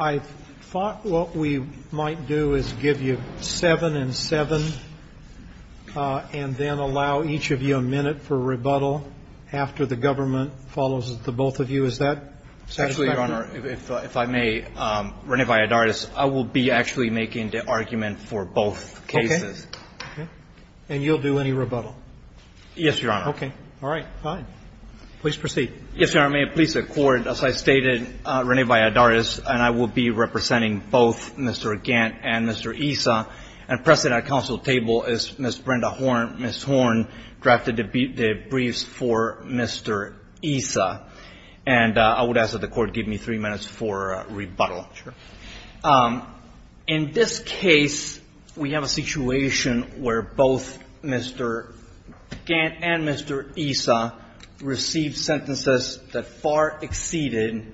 I thought what we might do is give you 7 and 7 and then allow each of you a minute for rebuttal after the government follows the both of you. Is that satisfactory? Actually, Your Honor, if I may, Rene Valladares, I will be actually making the argument for both cases. Okay. And you'll do any rebuttal? Yes, Your Honor. Okay. All right. Fine. Please proceed. Yes, Your Honor. May it please the Court, as I stated, Rene Valladares and I will be representing both Mr. Gant and Mr. Issa, and pressing our counsel table is Ms. Brenda Horn. Ms. Horn drafted the briefs for Mr. Issa, and I would ask that the Court give me 3 minutes for rebuttal. Sure. In this case, we have a situation where both Mr. Gant and Mr. Issa received sentences that far exceeded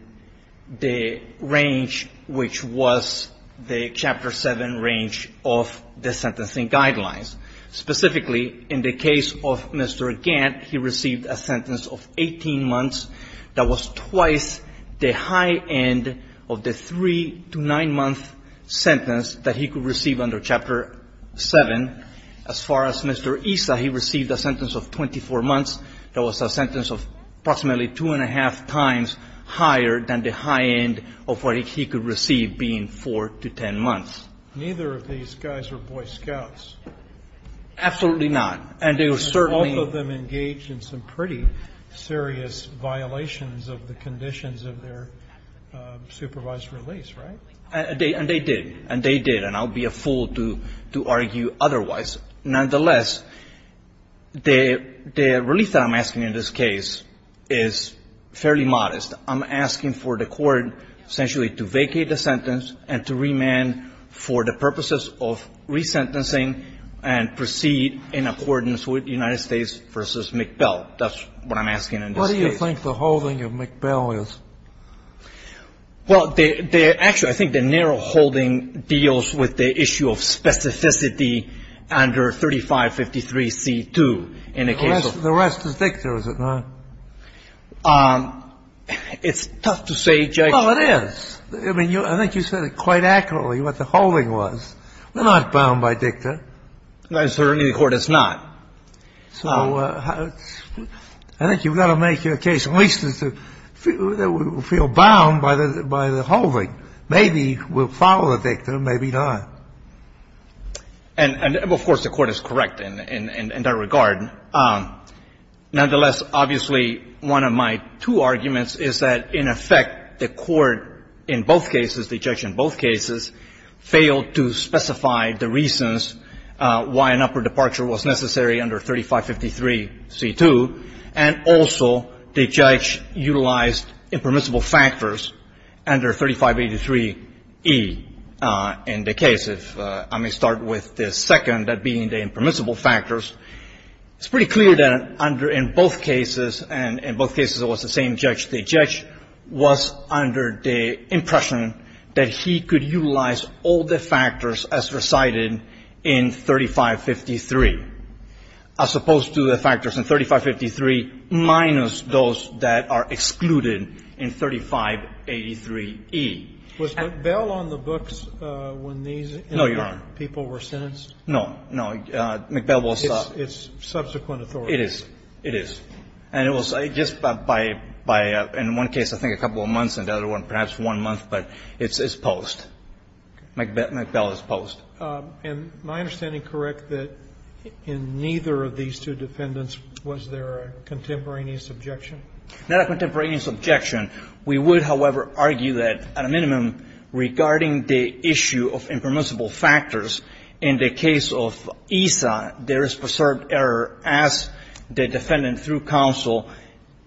the range which was the Chapter 7 range of the sentencing guidelines. Specifically, in the case of Mr. Gant, he received a sentence of 18 months that was twice the high end of the 3- to 9-month sentence that he could receive under Chapter 7. As far as Mr. Issa, he received a sentence of 24 months that was a sentence of approximately two-and-a-half times higher than the high end of what he could receive, being 4- to 10-months. Neither of these guys are Boy Scouts. Absolutely not. And they were certainly ---- And they did. And they did. And I'll be a fool to argue otherwise. Nonetheless, the release that I'm asking in this case is fairly modest. I'm asking for the Court essentially to vacate the sentence and to remand for the purposes of resentencing and proceed in accordance with United States v. McBell. of resentencing and proceed in accordance with United States v. McBell. What do you think the holding of McBell is? Well, they're actually ---- I think the narrow holding deals with the issue of specificity under 3553c2 in the case of ---- The rest is dicta, is it not? It's tough to say, Judge. Well, it is. I mean, I think you said it quite accurately, what the holding was. We're not bound by dicta. Certainly the Court is not. So I think you've got to make your case at least as to feel bound by the holding. Maybe we'll follow the dicta, maybe not. And of course, the Court is correct in that regard. Nonetheless, obviously, one of my two arguments is that, in effect, the Court in both cases, the judge in both cases, failed to specify the reasons why an upper departure was necessary under 3553c2, and also the judge utilized impermissible factors under 3583e in the case. If I may start with the second, that being the impermissible factors, it's pretty clear that under in both cases, and in both cases it was the same judge, the judge was under the impression that he could utilize all the factors as recited in 3553, as opposed to the factors in 3553 minus those that are excluded in 3583e. Was McBell on the books when these people were sentenced? No, Your Honor. No. No. McBell was. It's subsequent authority. It is. It is. And it was just by, in one case, I think a couple of months, in the other one, perhaps one month, but it's post. McBell is post. And my understanding, correct, that in neither of these two defendants, was there a contemporaneous objection? Not a contemporaneous objection. We would, however, argue that, at a minimum, regarding the issue of impermissible factors, in the case of ESA, there is preserved error as the defendant, through counsel,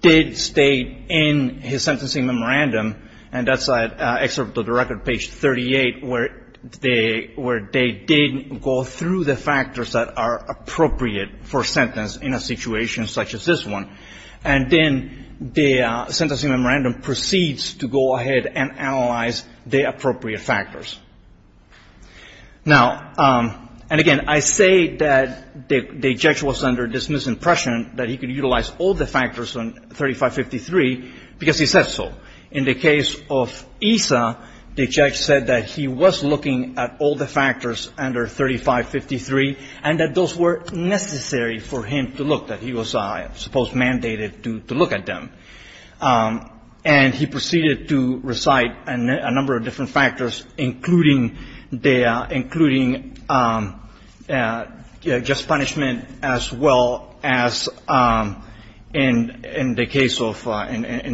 did state in his sentencing memorandum, and that's at Excerpt of the Record, page 38, where they did go through the factors that are appropriate for sentence in a situation such as this one. And then the sentencing memorandum proceeds to go ahead and analyze the appropriate factors. Now, and again, I say that the judge was under this misimpression that he could utilize all the factors on 3553 because he said so. In the case of ESA, the judge said that he was looking at all the factors under 3553, and that those were necessary for him to look at. He was, I suppose, mandated to look at them. And he proceeded to recite a number of different factors, including just punishment, as well as, in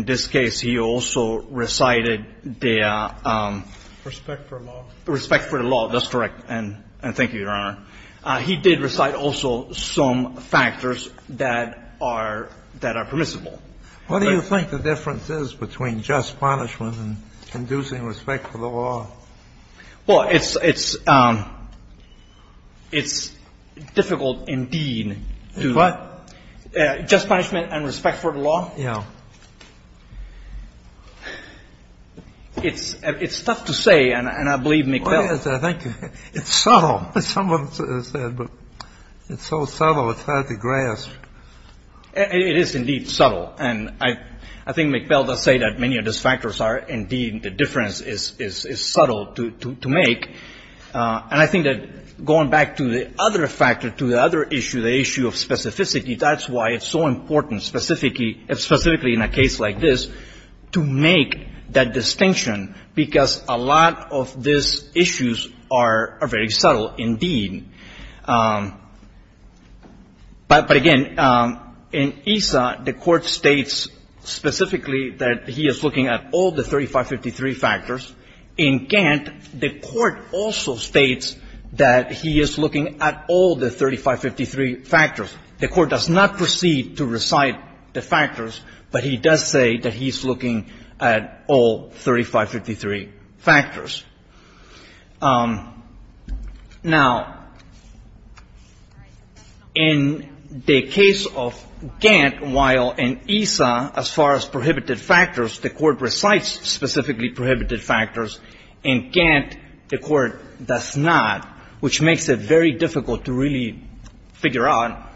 this case, he also recited the Respect for law. Respect for the law. That's correct. And thank you, Your Honor. He did recite also some factors that are permissible. What do you think the difference is between just punishment and inducing respect for the law? Well, it's difficult indeed to do. What? Just punishment and respect for the law. Yeah. It's tough to say, and I believe McBell. Well, yes, I think it's subtle, as someone said, but it's so subtle, it's hard to grasp. It is indeed subtle, and I think McBell does say that many of these factors are indeed the difference is subtle to make. And I think that going back to the other factor, to the other issue, the issue of specificity, that's why it's so important specifically in a case like this to make that distinction, because a lot of these issues are very subtle indeed. But again, in ESA, the Court states specifically that he is looking at all the 3553 factors. In Gantt, the Court also states that he is looking at all the 3553 factors. The Court does not proceed to recite the factors, but he does say that he's looking at all 3553 factors. Now, in the case of Gantt, while in ESA, as far as prohibited factors, the Court recites specifically prohibited factors, in Gantt, the Court does not, which makes it very difficult to really figure out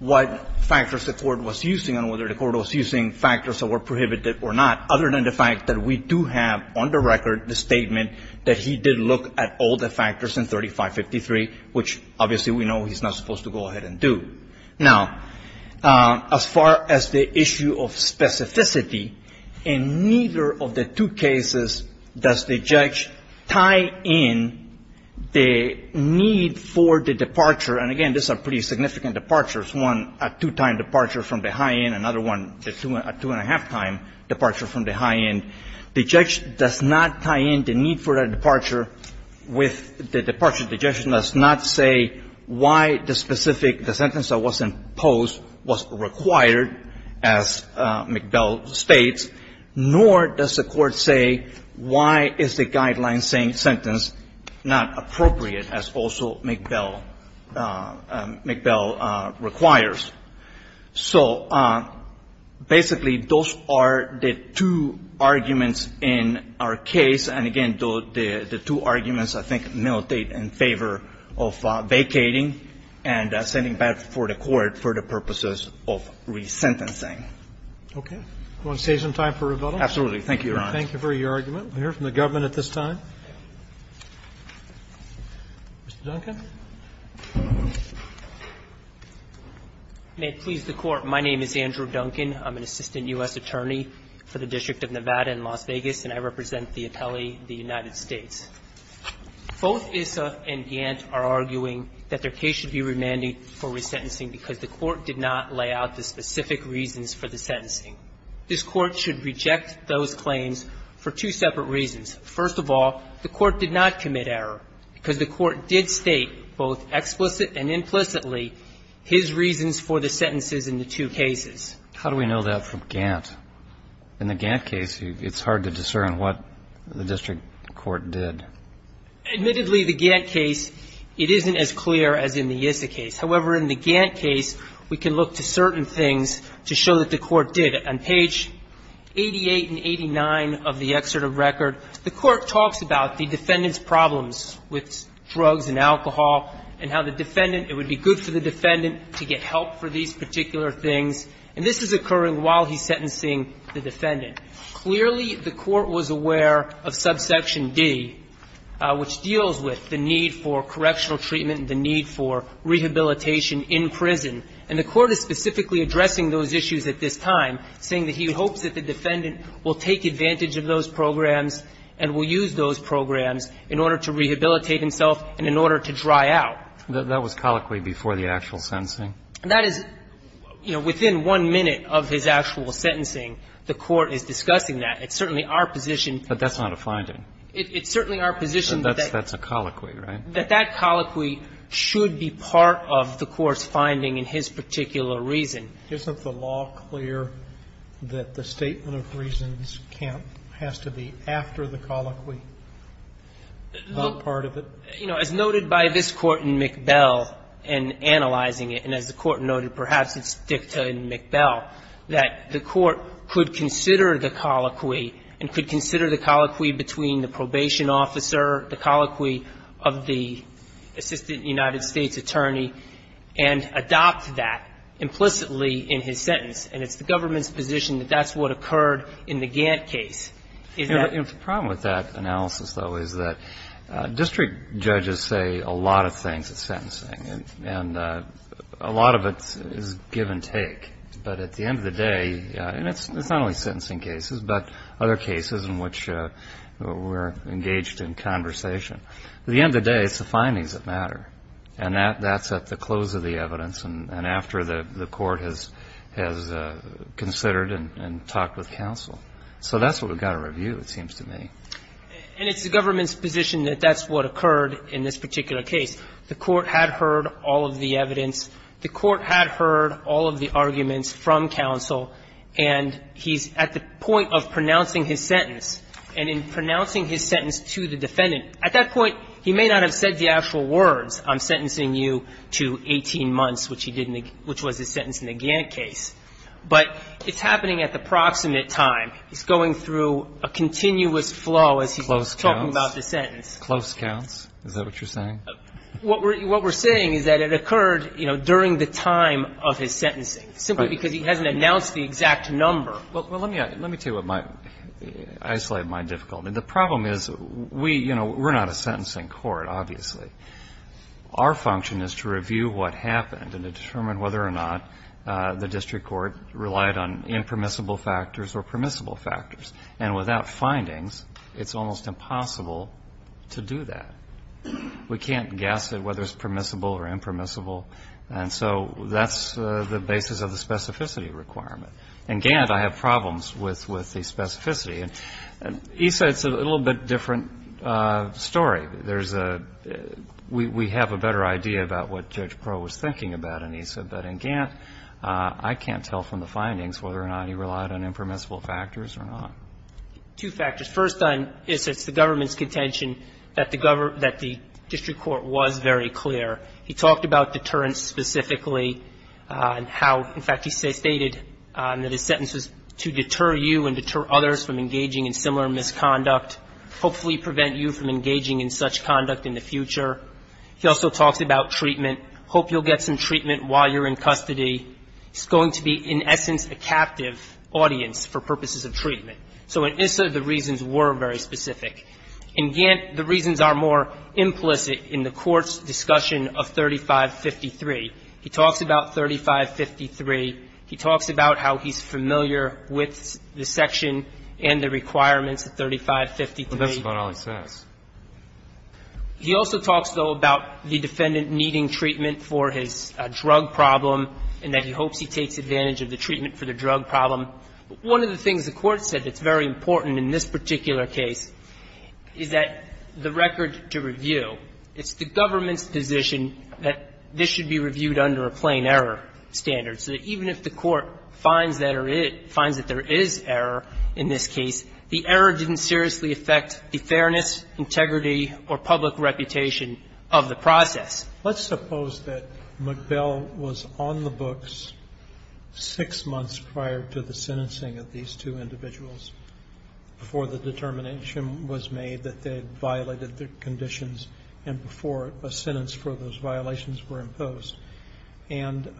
what factors the Court was using and whether the Court was using factors that were prohibited or not, other than the fact that we do have on the record the statement that he did look at all the factors in 3553, which obviously we know he's not supposed to go ahead and do. Now, as far as the issue of specificity, in neither of the two cases does the judge tie in the need for the departure, and again, these are pretty significant departures, one a two-time departure from the high end, another one a two-and-a-half-time departure from the high end. The judge does not tie in the need for a departure with the departure. The judge does not say why the specific, the sentence that was imposed was required, as McBell states, nor does the Court say why is the guideline sentence not appropriate, as also McBell, McBell requires. So basically, those are the two arguments in our case, and again, the two arguments, I think, militate in favor of vacating and sending back for the Court for the purposes of resentencing. Okay. You want to save some time for rebuttal? Absolutely. Thank you, Your Honor. Thank you for your argument. We'll hear from the government at this time. Mr. Duncan. May it please the Court, my name is Andrew Duncan. I'm an assistant U.S. attorney for the District of Nevada in Las Vegas, and I represent the appellee, the United States. Both ISSA and Gant are arguing that their case should be remanded for resentencing because the Court did not lay out the specific reasons for the sentencing. This Court should reject those claims for two separate reasons. First of all, the Court did not commit error because the Court did state, both explicit and implicitly, his reasons for the sentences in the two cases. How do we know that from Gant? In the Gant case, it's hard to discern what the district court did. Admittedly, the Gant case, it isn't as clear as in the ISSA case. However, in the Gant case, we can look to certain things to show that the Court did. On page 88 and 89 of the excerpt of record, the Court talks about the defendant's problems with drugs and alcohol and how the defendant, it would be good for the defendant to get help for these particular things. And this is occurring while he's sentencing the defendant. Clearly, the Court was aware of subsection D, which deals with the need for correctional treatment and the need for rehabilitation in prison. And the Court is specifically addressing those issues at this time, saying that he hopes that the defendant will take advantage of those programs and will use those programs in order to rehabilitate himself and in order to dry out. That was colloquy before the actual sentencing? That is, you know, within one minute of his actual sentencing, the Court is discussing that. It's certainly our position. But that's not a finding. It's certainly our position that that's a colloquy, right? That's a colloquy, but it's not a statement of reasons for his particular reason. Isn't the law clear that the statement of reasons can't or has to be after the colloquy, not part of it? You know, as noted by this Court in McBell in analyzing it, and as the Court noted, perhaps it's dicta in McBell, that the Court could consider the colloquy and could implicitly in his sentence. And it's the government's position that that's what occurred in the Gantt case. Is that the problem? The problem with that analysis, though, is that district judges say a lot of things at sentencing, and a lot of it is give and take. But at the end of the day, and it's not only sentencing cases, but other cases in which we're engaged in conversation, at the end of the day, it's the findings that matter. And that's at the close of the evidence and after the Court has considered and talked with counsel. So that's what we've got to review, it seems to me. And it's the government's position that that's what occurred in this particular case. The Court had heard all of the evidence. The Court had heard all of the arguments from counsel. And he's at the point of pronouncing his sentence. And in pronouncing his sentence to the defendant, at that point, he may not have said the actual words, I'm sentencing you to 18 months, which was his sentence in the Gantt case. But it's happening at the proximate time. It's going through a continuous flow as he's talking about the sentence. Close counts? Is that what you're saying? What we're saying is that it occurred, you know, during the time of his sentencing, simply because he hasn't announced the exact number. Well, let me tell you what my – I just like my difficulty. The problem is we – you know, we're not a sentencing court, obviously. Our function is to review what happened and to determine whether or not the district court relied on impermissible factors or permissible factors. And without findings, it's almost impossible to do that. We can't guess at whether it's permissible or impermissible. And so that's the basis of the specificity requirement. In Gantt, I have problems with the specificity. And ESA, it's a little bit different story. There's a – we have a better idea about what Judge Proh was thinking about in ESA. But in Gantt, I can't tell from the findings whether or not he relied on impermissible factors or not. Two factors. First on – it's the government's contention that the district court was very clear. He talked about deterrence specifically and how – in fact, he stated that his sentence was to deter you and deter others from engaging in similar misconduct, hopefully prevent you from engaging in such conduct in the future. He also talks about treatment. Hope you'll get some treatment while you're in custody. It's going to be, in essence, a captive audience for purposes of treatment. So in ESA, the reasons were very specific. In Gantt, the reasons are more implicit in the Court's discussion of 3553. He talks about 3553. He talks about how he's familiar with the section and the requirements of 3553. But that's about all he says. He also talks, though, about the defendant needing treatment for his drug problem and that he hopes he takes advantage of the treatment for the drug problem. One of the things the Court said that's very important in this particular case is that the record to review, it's the government's position that this should be reviewed under a plain error standard. So even if the Court finds that there is error in this case, the error didn't seriously affect the fairness, integrity, or public reputation of the process. Roberts, let's suppose that MacBell was on the books six months prior to the sentencing of these two individuals before the determination was made that they had violated their conditions and before a sentence for those violations were imposed. And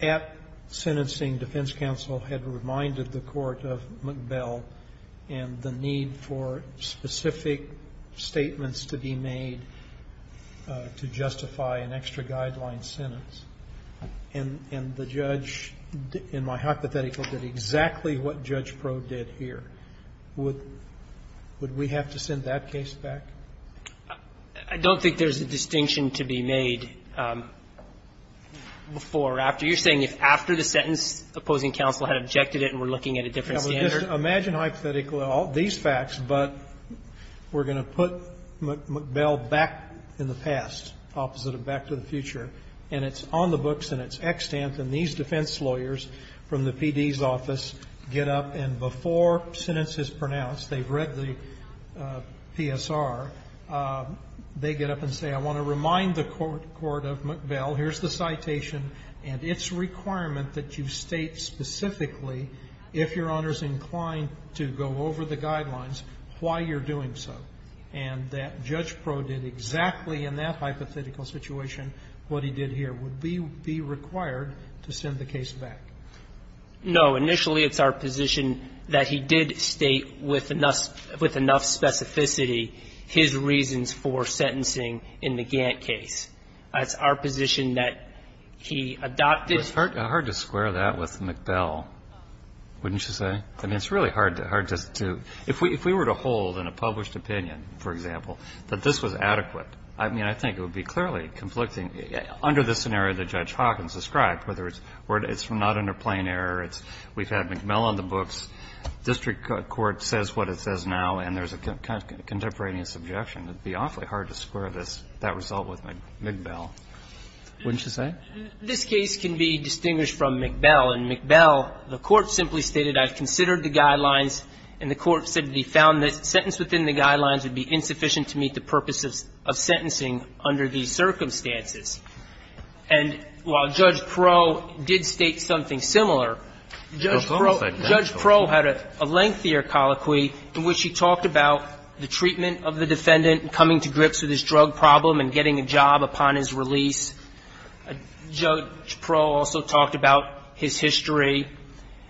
at sentencing, defense counsel had reminded the Court of MacBell and the need for specific statements to be made to justify an extra guideline sentence. And the judge, in my hypothetical, did exactly what Judge Pro did here. Would we have to send that case back? I don't think there's a distinction to be made. Before or after, you're saying if after the sentence, opposing counsel had objected it and we're looking at a different standard? Imagine hypothetically all these facts, but we're going to put MacBell back in the past, opposite of back to the future, and it's on the books and it's extant. And these defense lawyers from the PD's office get up and before sentence is pronounced, they've read the PSR, they get up and say, I want to remind the Court of MacBell, here's the citation, and its requirement that you state specifically, if Your Honor's inclined to go over the guidelines, why you're doing so. And that Judge Pro did exactly in that hypothetical situation what he did here. Would we be required to send the case back? No. Initially, it's our position that he did state with enough specificity his reasons for sentencing in the Gantt case. It's our position that he adopted. It's hard to square that with MacBell, wouldn't you say? I mean, it's really hard to do. If we were to hold in a published opinion, for example, that this was adequate, I mean, I think it would be clearly conflicting under the scenario that Judge Hawkins described, whether it's not under plain error, it's we've had MacBell on the books, district court says what it says now, and there's a contemporaneous objection. It would be awfully hard to square this, that result with MacBell, wouldn't you say? This case can be distinguished from MacBell. In MacBell, the Court simply stated I've considered the guidelines, and the Court said the sentence within the guidelines would be insufficient to meet the purposes of sentencing under these circumstances. And while Judge Proulx did state something similar, Judge Proulx had a lengthier colloquy in which he talked about the treatment of the defendant coming to grips with his drug problem and getting a job upon his release. Judge Proulx also talked about his history.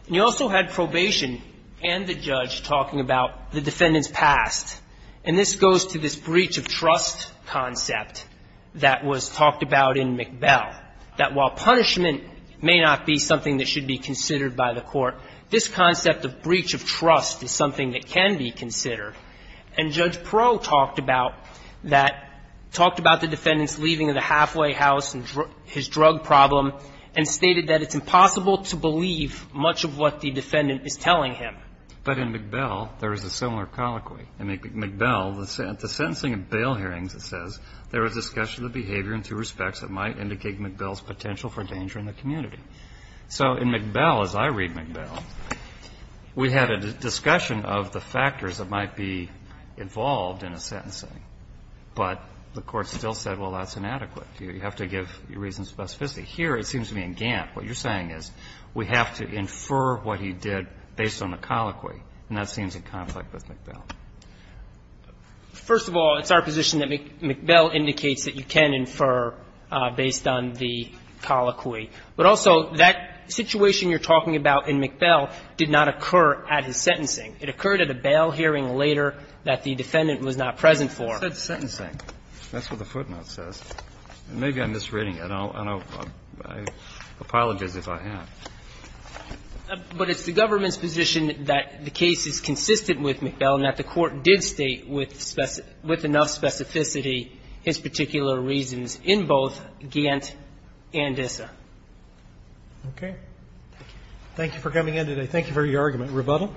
And he also had probation and the judge talking about the defendant's past. And this goes to this breach of trust concept that was talked about in MacBell, that while punishment may not be something that should be considered by the Court, this concept of breach of trust is something that can be considered. And Judge Proulx talked about that, talked about the defendant's leaving of the halfway house and his drug problem, and stated that it's impossible to believe much of what the defendant is telling him. But in MacBell, there is a similar colloquy. In MacBell, the sentencing and bail hearings, it says, there is discussion of behavior and two respects that might indicate MacBell's potential for danger in the community. So in MacBell, as I read MacBell, we had a discussion of the factors that might be involved in a sentencing, but the Court still said, well, that's inadequate. You have to give your reason of specificity. Here, it seems to me in Gantt, what you're saying is we have to infer what he did based on the colloquy. And that seems in conflict with MacBell. First of all, it's our position that MacBell indicates that you can infer based on the colloquy. But also, that situation you're talking about in MacBell did not occur at his sentencing. It occurred at a bail hearing later that the defendant was not present for. It said sentencing. That's what the footnote says. Maybe I'm misreading it, and I'll apologize if I have. But it's the government's position that the case is consistent with MacBell and that the Court did state with enough specificity his particular reasons in both Gantt and Issa. Roberts. Thank you for coming in today. Thank you for your argument. Rebuttal.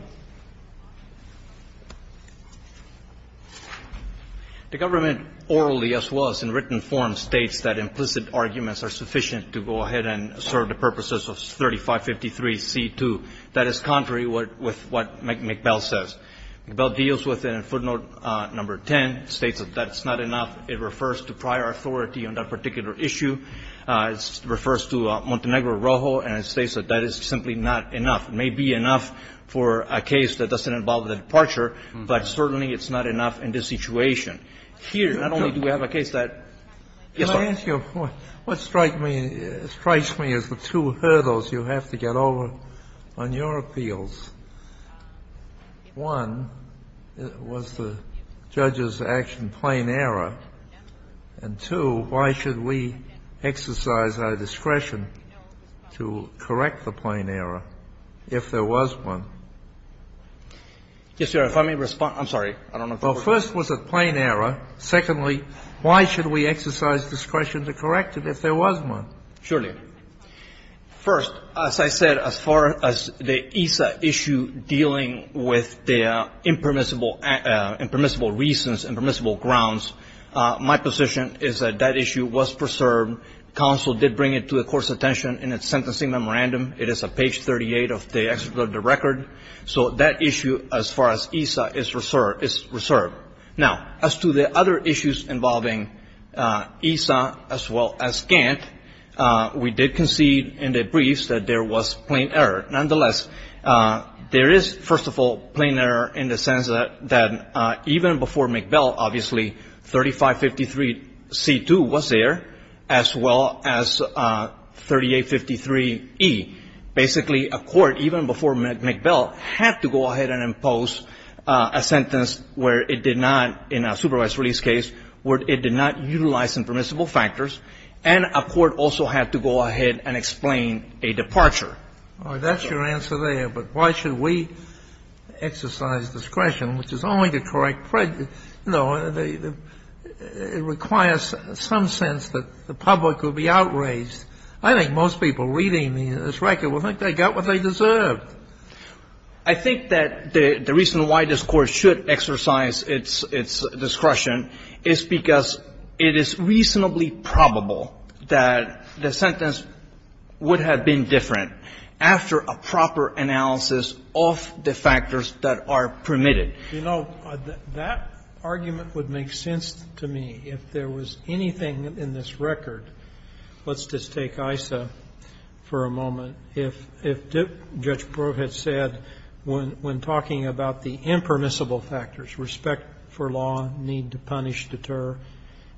The government orally, as well as in written form, states that implicit arguments are sufficient to go ahead and serve the purposes of 3553C2. That is contrary with what MacBell says. MacBell deals with it in footnote number 10, states that that's not enough. It refers to prior authority on that particular issue. It refers to Montenegro-Rojo, and it states that that is simply not enough. It may be enough for a case that doesn't involve the departure, but certainly it's not enough in this situation. Here, not only do we have a case that yes, sir. I'm going to ask you, what strikes me as the two hurdles you have to get over on your appeals, one, was the judge's action plain error, and two, why should we exercise our discretion to correct the plain error if there was one? Yes, sir. If I may respond. I don't know if you're questioning me. Well, first, was it plain error? Secondly, why should we exercise discretion to correct it if there was one? Surely. First, as I said, as far as the ESA issue dealing with the impermissible reasons, impermissible grounds, my position is that that issue was preserved. Counsel did bring it to the Court's attention in its sentencing memorandum. It is at page 38 of the record. So that issue as far as ESA is reserved. Now, as to the other issues involving ESA as well as Gantt, we did concede in the briefs that there was plain error. Nonetheless, there is, first of all, plain error in the sense that even before McBell, obviously, 3553C2 was there, as well as 3853E. Basically, a court, even before McBell, had to go ahead and impose a sentence where it did not, in a supervised release case, where it did not utilize impermissible factors, and a court also had to go ahead and explain a departure. That's your answer there. But why should we exercise discretion, which is only to correct prejudice? You know, it requires some sense that the public will be outraged. I think most people reading this record will think they got what they deserved. But I think that the reason why this Court should exercise its discretion is because it is reasonably probable that the sentence would have been different after a proper analysis of the factors that are permitted. You know, that argument would make sense to me if there was anything in this record Let's just take ISA for a moment. If Judge Brewer had said, when talking about the impermissible factors, respect for law, need to punish, deter,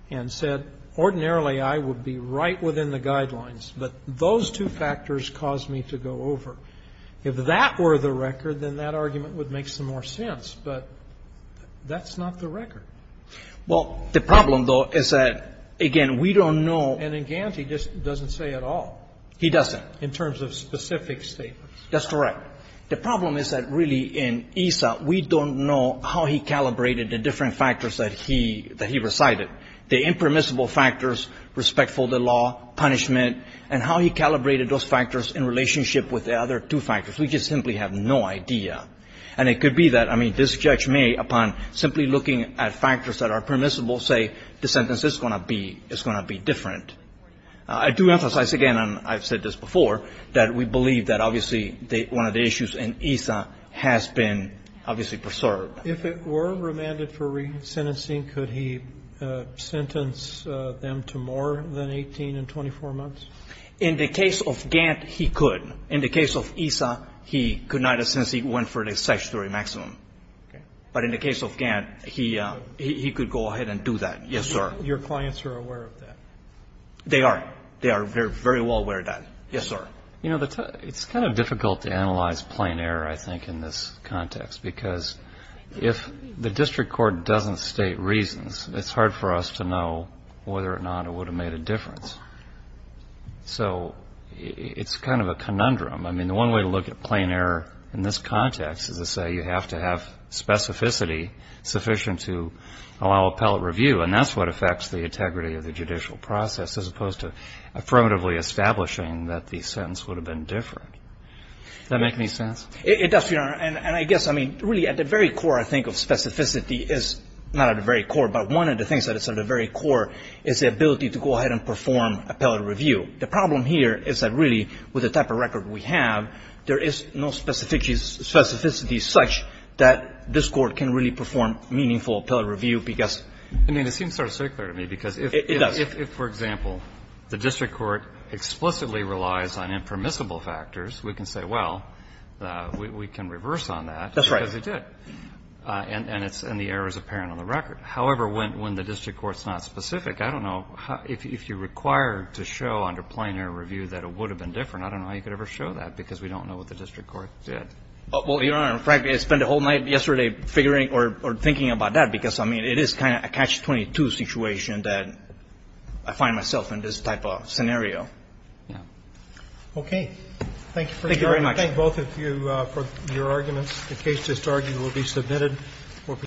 and said, ordinarily, I would be right within the guidelines, but those two factors caused me to go over, if that were the record, then that argument would make some more sense. But that's not the record. Well, the problem, though, is that, again, we don't know And in Ganti, he just doesn't say at all. He doesn't. In terms of specific statements. That's correct. The problem is that, really, in ISA, we don't know how he calibrated the different factors that he recited, the impermissible factors, respect for the law, punishment, and how he calibrated those factors in relationship with the other two factors. We just simply have no idea. And it could be that, I mean, this judge may, upon simply looking at factors that are permissible, say the sentence is going to be different. I do emphasize, again, and I've said this before, that we believe that, obviously, one of the issues in ISA has been, obviously, preserved. If it were remanded for resentencing, could he sentence them to more than 18 and 24 months? In the case of Gant, he could. In the case of ISA, he could not, since he went for the statutory maximum. But in the case of Gant, he could go ahead and do that. Yes, sir. Your clients are aware of that? They are. They are very well aware of that. Yes, sir. You know, it's kind of difficult to analyze plain error, I think, in this context, because if the district court doesn't state reasons, it's hard for us to know whether or not it would have made a difference. So it's kind of a conundrum. I mean, the one way to look at plain error in this context is to say you have to have specificity sufficient to allow appellate review. And that's what affects the integrity of the judicial process, as opposed to affirmatively establishing that the sentence would have been different. Does that make any sense? It does, Your Honor. And I guess, I mean, really, at the very core, I think, of specificity is not at the very core, but one of the things that is at the very core is the ability to go ahead and perform appellate review. The problem here is that, really, with the type of record we have, there is no specificity such that this Court can really perform meaningful appellate review because of the record. It does. I mean, it seems sort of circular to me, because if, for example, the district court explicitly relies on impermissible factors, we can say, well, we can reverse on that. That's right. Because we did. And the error is apparent on the record. However, when the district court's not specific, I don't know, if you're required to show under plenary review that it would have been different, I don't know how you could ever show that, because we don't know what the district court did. Well, Your Honor, frankly, I spent the whole night yesterday figuring or thinking about that, because, I mean, it is kind of a catch-22 situation that I find myself in this type of scenario. Yeah. Okay. Thank you very much. I thank both of you for your arguments. The case to start will be submitted.